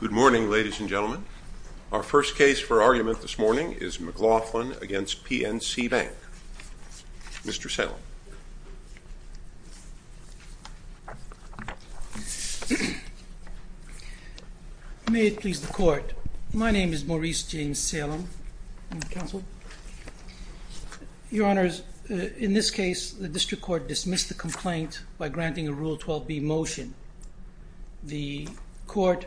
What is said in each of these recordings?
Good morning, ladies and gentlemen. Our first case for argument this morning is McLaughlin v. PNC Bank. Mr. Salem. May it please the Court. My name is Maurice James Salem. Your Honor, in this case, the District Court dismissed the complaint by granting a Rule 12b motion. The Court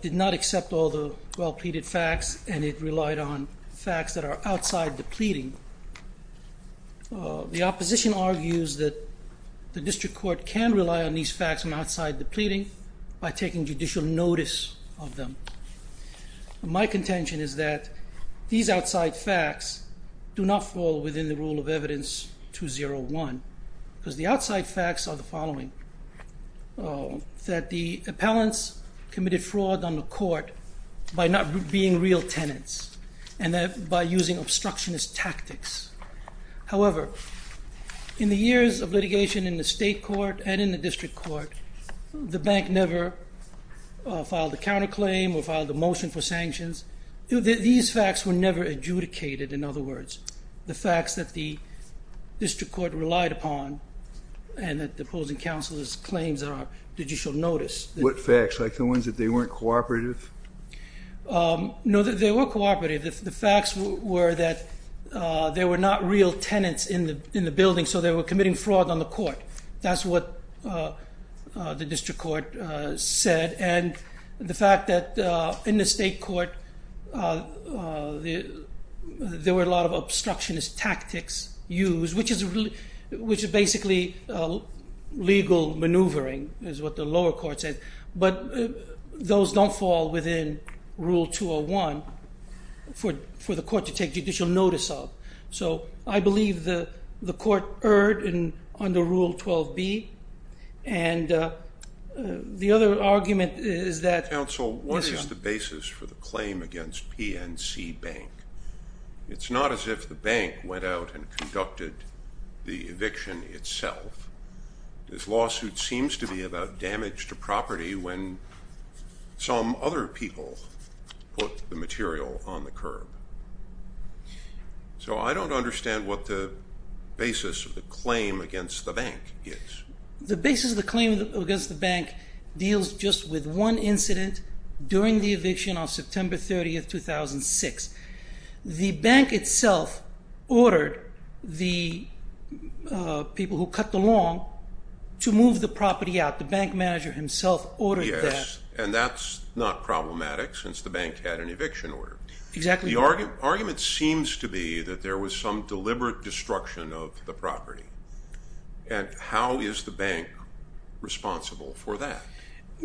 did not accept all the well-pleaded facts and it relied on facts that are outside the pleading. The opposition argues that the District Court can rely on these facts from outside the pleading by taking judicial notice of them. My contention is that these outside facts do not fall within the Rule of Evidence 201 because the outside facts are the following. That the appellants committed fraud on the Court by not being real tenants and that by using obstructionist tactics. However, in the years of litigation in the State Court and in the District Court, the Bank never filed a counterclaim or filed a motion for sanctions. These facts were never adjudicated, in other words, the facts that the District Court relied upon and that the opposing counsel's claims are judicial notice. What facts? Like the ones that they weren't cooperative? No, they were cooperative. The facts were that there were not real tenants in the building, so they were committing fraud on the Court. That's what the District Court said and the fact that in the State Court, there were a lot of obstructionist tactics used, which is basically legal maneuvering, is what the lower court said. But those don't fall within Rule 201 for the Court to take judicial notice of. So, I believe the Court erred under Rule 12b and the other argument is that- Counsel, what is the basis for the claim against PNC Bank? It's not as if the Bank went out and conducted the eviction itself. This lawsuit seems to be about damage to property when some other people put the material on the curb. So, I don't understand what the basis of the claim against the Bank is. The basis of the claim against the Bank deals just with one incident during the eviction on September 30, 2006. The Bank itself ordered the people who cut the lawn to move the property out. The Bank manager himself ordered that. Yes, and that's not problematic since the Bank had an eviction order. Exactly. The argument seems to be that there was some deliberate destruction of the property. And how is the Bank responsible for that?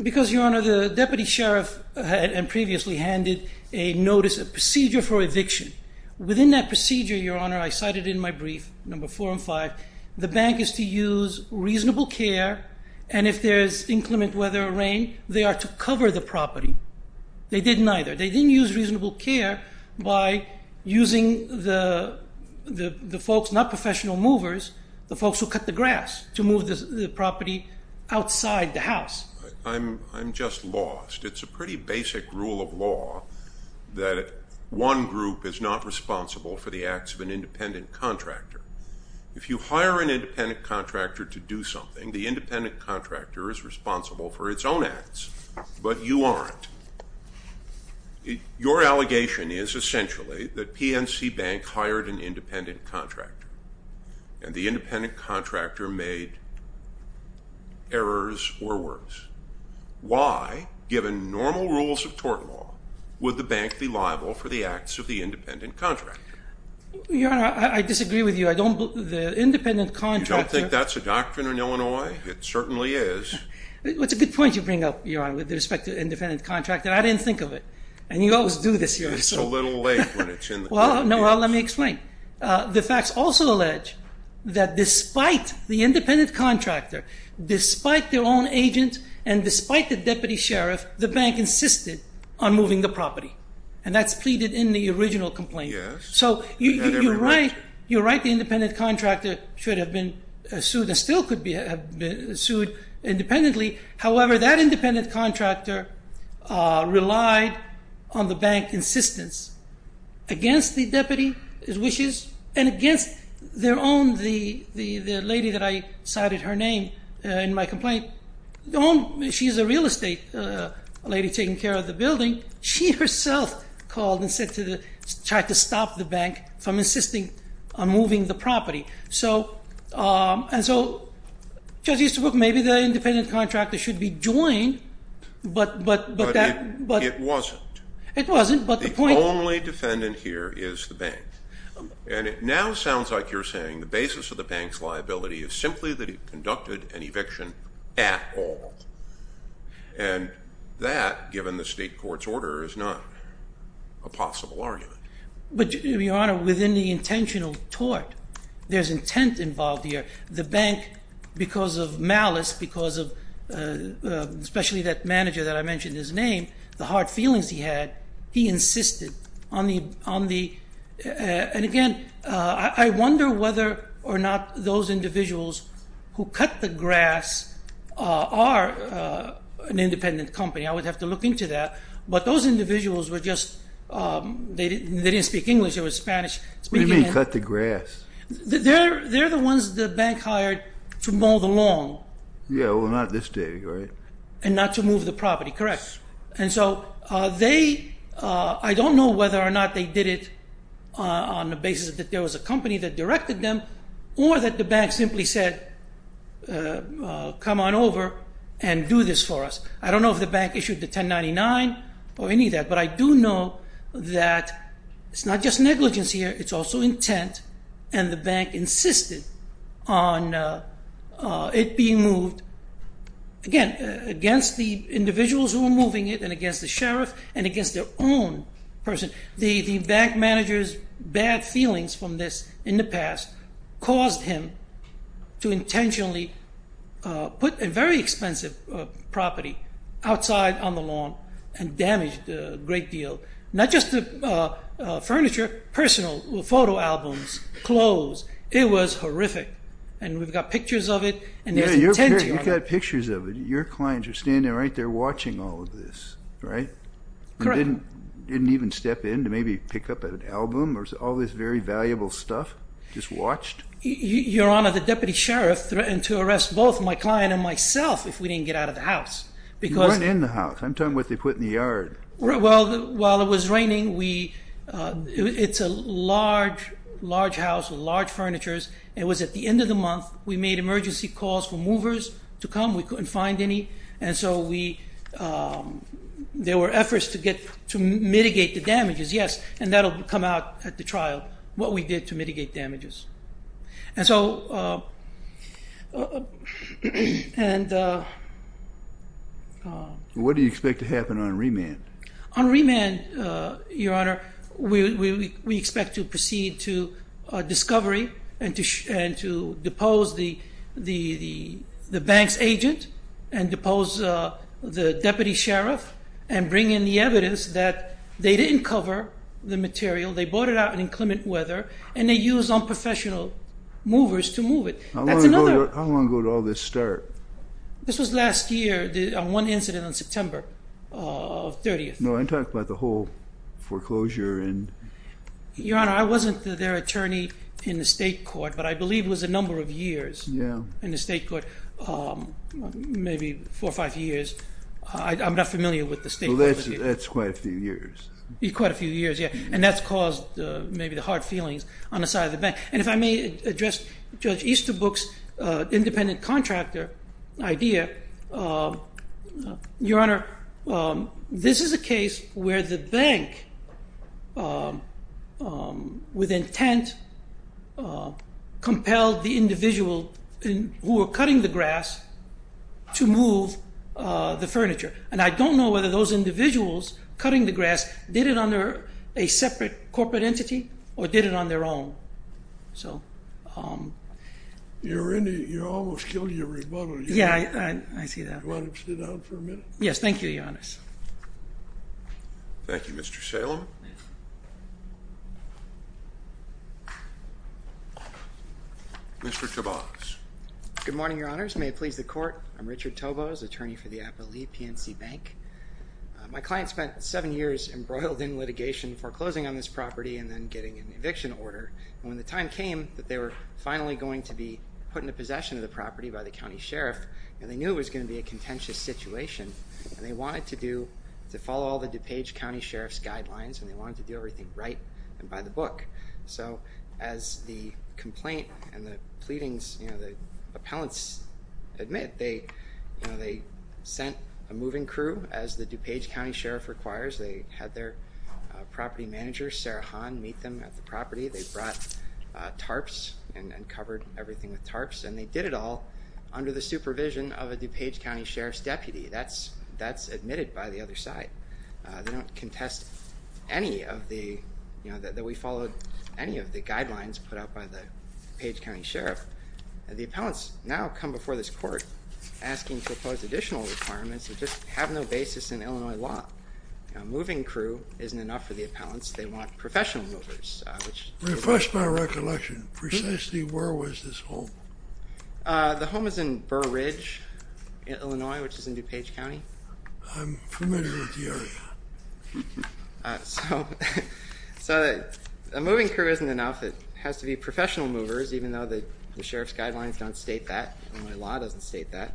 Because, Your Honor, the Deputy Sheriff had previously handed a notice, a procedure for eviction. Within that procedure, Your Honor, I cited in my brief, Number 4 and 5, the Bank is to use reasonable care. And if there is inclement weather or rain, they are to cover the property. They didn't either. They didn't use reasonable care by using the folks, not professional movers, the folks who cut the grass to move the property outside the house. I'm just lost. It's a pretty basic rule of law that one group is not responsible for the acts of an independent contractor. If you hire an independent contractor to do something, the independent contractor is responsible for its own acts. But you aren't. Your allegation is essentially that PNC Bank hired an independent contractor. And the independent contractor made errors or works. Why, given normal rules of tort law, would the Bank be liable for the acts of the independent contractor? Your Honor, I disagree with you. The independent contractor… You don't think that's a doctrine in Illinois? It certainly is. It's a good point you bring up, Your Honor, with respect to independent contractor. I didn't think of it. And you always do this, Your Honor. It's a little late when it's in the court. Well, let me explain. The facts also allege that despite the independent contractor, despite their own agent, and despite the deputy sheriff, the Bank insisted on moving the property. And that's pleaded in the original complaint. Yes. So you're right. You're right. The independent contractor should have been sued and still could have been sued independently. However, that independent contractor relied on the Bank's insistence against the deputy's wishes and against their own. The lady that I cited, her name in my complaint, she's a real estate lady taking care of the building. She herself called and said to try to stop the Bank from insisting on moving the property. And so, Judge Easterbrook, maybe the independent contractor should be joined, but that- But it wasn't. It wasn't, but the point- The only defendant here is the Bank. And it now sounds like you're saying the basis of the Bank's liability is simply that it conducted an eviction at all. And that, given the state court's order, is not a possible argument. But, Your Honor, within the intentional tort, there's intent involved here. The Bank, because of malice, because of especially that manager that I mentioned, his name, the hard feelings he had, he insisted on the- And again, I wonder whether or not those individuals who cut the grass are an independent company. I would have to look into that. But those individuals were just, they didn't speak English, they were Spanish- What do you mean cut the grass? They're the ones the Bank hired to mow the lawn. Yeah, well, not this day, right? And not to move the property, correct. And so, they, I don't know whether or not they did it on the basis that there was a company that directed them, or that the Bank simply said, come on over and do this for us. I don't know if the Bank issued the 1099 or any of that. But I do know that it's not just negligence here, it's also intent. And the Bank insisted on it being moved, again, against the individuals who were moving it, and against the sheriff, and against their own person. The Bank manager's bad feelings from this in the past caused him to intentionally put a very expensive property outside on the lawn and damaged a great deal. Not just the furniture, personal, photo albums, clothes. It was horrific. And we've got pictures of it. Yeah, you've got pictures of it. Your clients are standing right there watching all of this, right? Correct. Your client didn't even step in to maybe pick up an album or all this very valuable stuff? Just watched? Your Honor, the deputy sheriff threatened to arrest both my client and myself if we didn't get out of the house. You weren't in the house. I'm talking about what they put in the yard. Well, while it was raining, it's a large, large house with large furnitures. It was at the end of the month. We made emergency calls for movers to come. We couldn't find any. And so there were efforts to mitigate the damages. Yes, and that will come out at the trial, what we did to mitigate damages. And so... What do you expect to happen on remand? On remand, Your Honor, we expect to proceed to discovery and to depose the bank's agent and depose the deputy sheriff and bring in the evidence that they didn't cover the material, they brought it out in inclement weather, and they used unprofessional movers to move it. How long ago did all this start? This was last year, on one incident on September 30th. No, I'm talking about the whole foreclosure and... Your Honor, I wasn't their attorney in the state court, but I believe it was a number of years in the state court, maybe four or five years. I'm not familiar with the state court. That's quite a few years. Quite a few years, yeah, and that's caused maybe the hard feelings on the side of the bank. And if I may address Judge Easterbrook's independent contractor idea, Your Honor, this is a case where the bank, with intent, compelled the individual who were cutting the grass to move the furniture. And I don't know whether those individuals cutting the grass did it under a separate corporate entity or did it on their own. You almost killed your rebuttal. Yeah, I see that. Do you want to sit down for a minute? Yes, thank you, Your Honor. Thank you, Mr. Salem. Mr. Tobias. Good morning, Your Honors. May it please the Court? I'm Richard Tobos, attorney for the Appalachian PNC Bank. My client spent seven years embroiled in litigation foreclosing on this property and then getting an eviction order. When the time came that they were finally going to be put into possession of the property by the county sheriff, and they knew it was going to be a contentious situation, and they wanted to follow all the DuPage County Sheriff's guidelines and they wanted to do everything right and by the book. So as the complaint and the pleadings, you know, the appellants admit, they sent a moving crew as the DuPage County Sheriff requires. They had their property manager, Sarah Hahn, meet them at the property. They brought tarps and covered everything with tarps. And they did it all under the supervision of a DuPage County Sheriff's deputy. That's admitted by the other side. They don't contest any of the, you know, that we followed any of the guidelines put out by the DuPage County Sheriff. The appellants now come before this Court asking to oppose additional requirements that just have no basis in Illinois law. A moving crew isn't enough for the appellants. They want professional movers. Refresh my recollection. Precisely where was this home? The home is in Burr Ridge, Illinois, which is in DuPage County. I'm familiar with the area. So a moving crew isn't enough. It has to be professional movers, even though the Sheriff's guidelines don't state that and the law doesn't state that.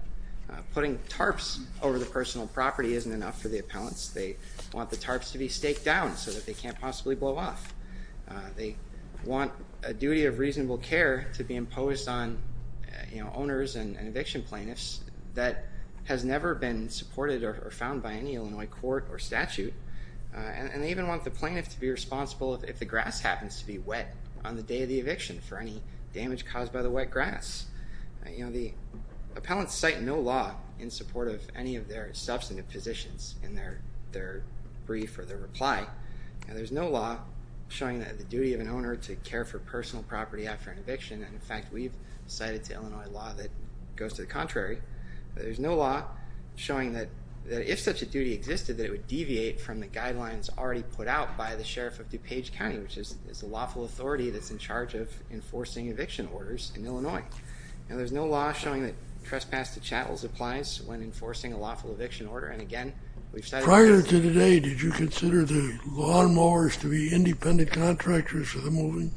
Putting tarps over the personal property isn't enough for the appellants. They want the tarps to be staked down so that they can't possibly blow off. They want a duty of reasonable care to be imposed on, you know, owners and eviction plaintiffs that has never been supported or found by any Illinois court or statute. And they even want the plaintiff to be responsible if the grass happens to be wet on the day of the eviction for any damage caused by the wet grass. You know, the appellants cite no law in support of any of their substantive positions in their brief or their reply. There's no law showing that the duty of an owner to care for personal property after an eviction, and in fact, we've cited to Illinois law that goes to the contrary. There's no law showing that if such a duty existed, that it would deviate from the guidelines already put out by the Sheriff of DuPage County, which is a lawful authority that's in charge of enforcing eviction orders in Illinois. And there's no law showing that trespass to chattels applies when enforcing a lawful eviction order. Prior to today, did you consider the lawn mowers to be independent contractors for the moving?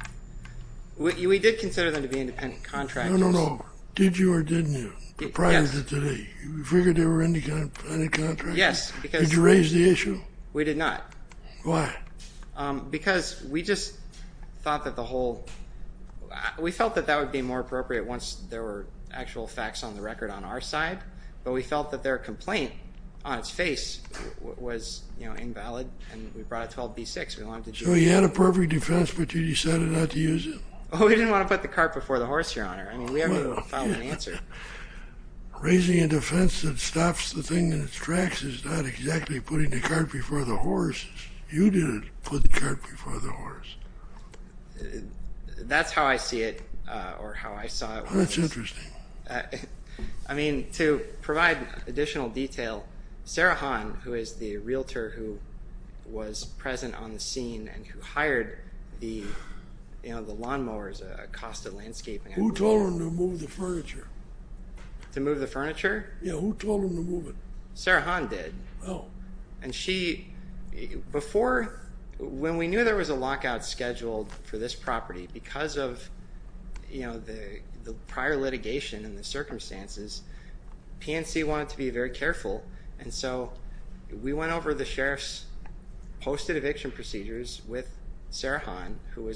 We did consider them to be independent contractors. No, no, no. Did you or didn't you prior to today? You figured they were independent contractors? Yes. Did you raise the issue? We did not. Why? Because we just thought that the whole—we felt that that would be more appropriate once there were actual facts on the record on our side, but we felt that their complaint on its face was invalid, and we brought it to 12b-6. So you had a perfect defense, but you decided not to use it? We didn't want to put the cart before the horse, Your Honor. I mean, we have no final answer. Raising a defense that stops the thing in its tracks is not exactly putting the cart before the horse. You didn't put the cart before the horse. That's how I see it, or how I saw it. That's interesting. I mean, to provide additional detail, Sarah Hahn, who is the realtor who was present on the scene and who hired the lawnmowers, Acosta Landscaping— Who told them to move the furniture? To move the furniture? Yeah, who told them to move it? Sarah Hahn did. Oh. And she—before, when we knew there was a lockout scheduled for this property, because of the prior litigation and the circumstances, PNC wanted to be very careful, and so we went over the sheriff's posted eviction procedures with Sarah Hahn, who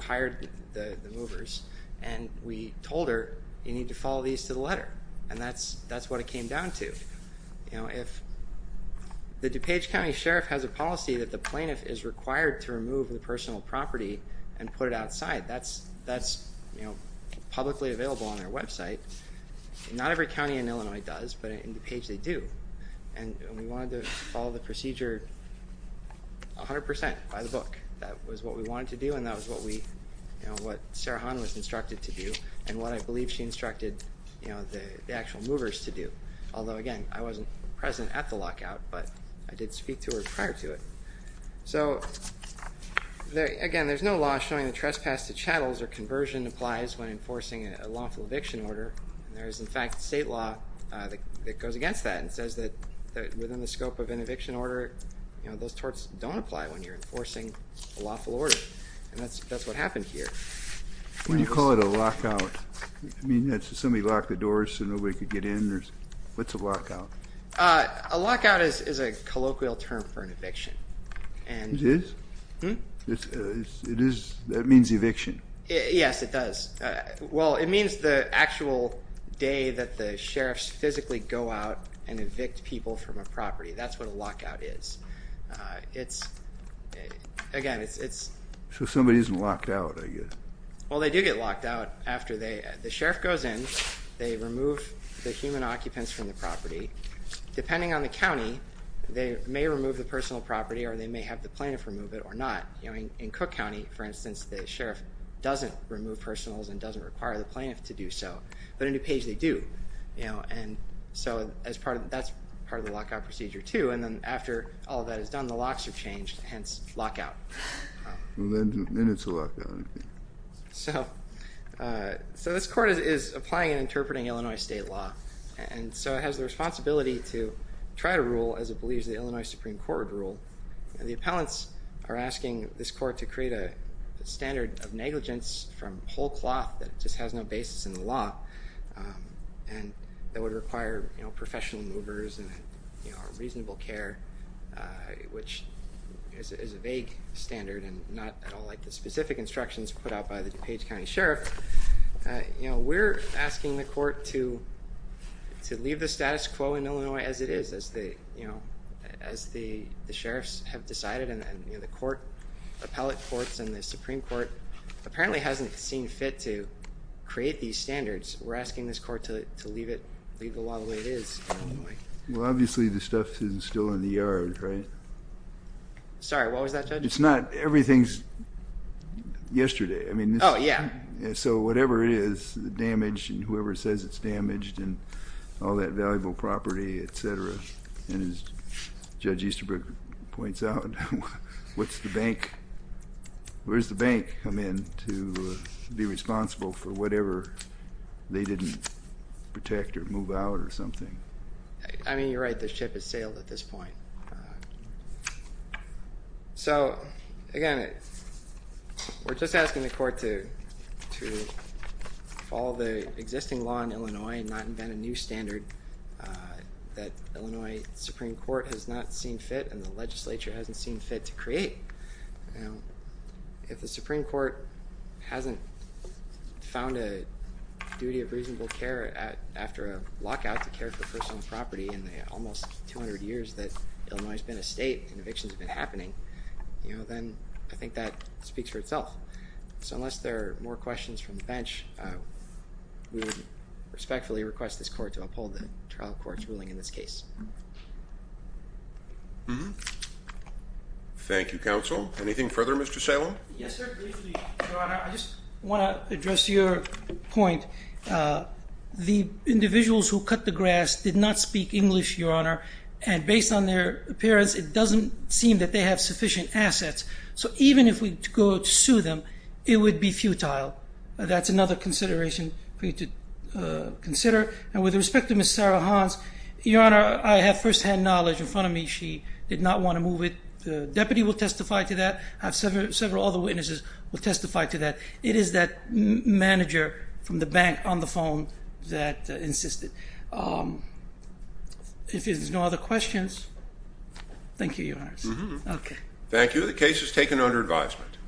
hired the movers, and we told her, you need to follow these to the letter, and that's what it came down to. If the DuPage County Sheriff has a policy that the plaintiff is required to remove the personal property and put it outside, that's publicly available on their website. Not every county in Illinois does, but in DuPage they do. And we wanted to follow the procedure 100 percent by the book. That was what we wanted to do, and that was what Sarah Hahn was instructed to do, and what I believe she instructed the actual movers to do. Although, again, I wasn't present at the lockout, but I did speak to her prior to it. So, again, there's no law showing that trespass to chattels or conversion applies when enforcing a lawful eviction order. There is, in fact, state law that goes against that and says that within the scope of an eviction order, those torts don't apply when you're enforcing a lawful order, and that's what happened here. When you call it a lockout, you mean somebody locked the doors so nobody could get in? What's a lockout? A lockout is a colloquial term for an eviction. It is? Hmm? It is? That means eviction? Yes, it does. Well, it means the actual day that the sheriffs physically go out and evict people from a property. That's what a lockout is. It's, again, it's... So somebody isn't locked out, I guess. Well, they do get locked out after the sheriff goes in, they remove the human occupants from the property. Depending on the county, they may remove the personal property or they may have the plaintiff remove it or not. In Cook County, for instance, the sheriff doesn't remove personals and doesn't require the plaintiff to do so. But in DuPage, they do. And so that's part of the lockout procedure, too. And then after all that is done, the locks are changed, hence lockout. And then it's a lockdown, I think. So this court is applying and interpreting Illinois state law. And so it has the responsibility to try to rule as it believes the Illinois Supreme Court would rule. And the appellants are asking this court to create a standard of negligence from whole cloth that just has no basis in the law. And that would require professional movers and reasonable care, which is a vague standard and not at all like the specific instructions put out by the DuPage County Sheriff. We're asking the court to leave the status quo in Illinois as it is, as the sheriffs have decided. And the appellate courts and the Supreme Court apparently hasn't seen fit to create these standards. We're asking this court to leave the law the way it is in Illinois. Well, obviously the stuff is still in the yard, right? Sorry, what was that, Judge? It's not. Everything's yesterday. Oh, yeah. So whatever it is, the damage and whoever says it's damaged and all that valuable property, et cetera. And as Judge Easterbrook points out, where's the bank come in to be responsible for whatever they didn't protect or move out or something? I mean, you're right. The ship has sailed at this point. So, again, we're just asking the court to follow the existing law in Illinois and not invent a new standard that Illinois Supreme Court has not seen fit and the legislature hasn't seen fit to create. If the Supreme Court hasn't found a duty of reasonable care after a lockout to care for personal property in the almost 200 years that Illinois has been a state and evictions have been happening, then I think that speaks for itself. So unless there are more questions from the bench, we would respectfully request this court to uphold the trial court's ruling in this case. Mm-hmm. Thank you, counsel. Anything further, Mr. Salem? Yes, sir. Briefly, Your Honor, I just want to address your point. The individuals who cut the grass did not speak English, Your Honor, and based on their appearance, it doesn't seem that they have sufficient assets. So even if we go to sue them, it would be futile. That's another consideration for you to consider. And with respect to Ms. Sarah Hans, Your Honor, I have firsthand knowledge in front of me she did not want to move it. The deputy will testify to that. I have several other witnesses who will testify to that. It is that manager from the bank on the phone that insisted. If there's no other questions, thank you, Your Honor. Mm-hmm. Thank you. The case is taken under advisement.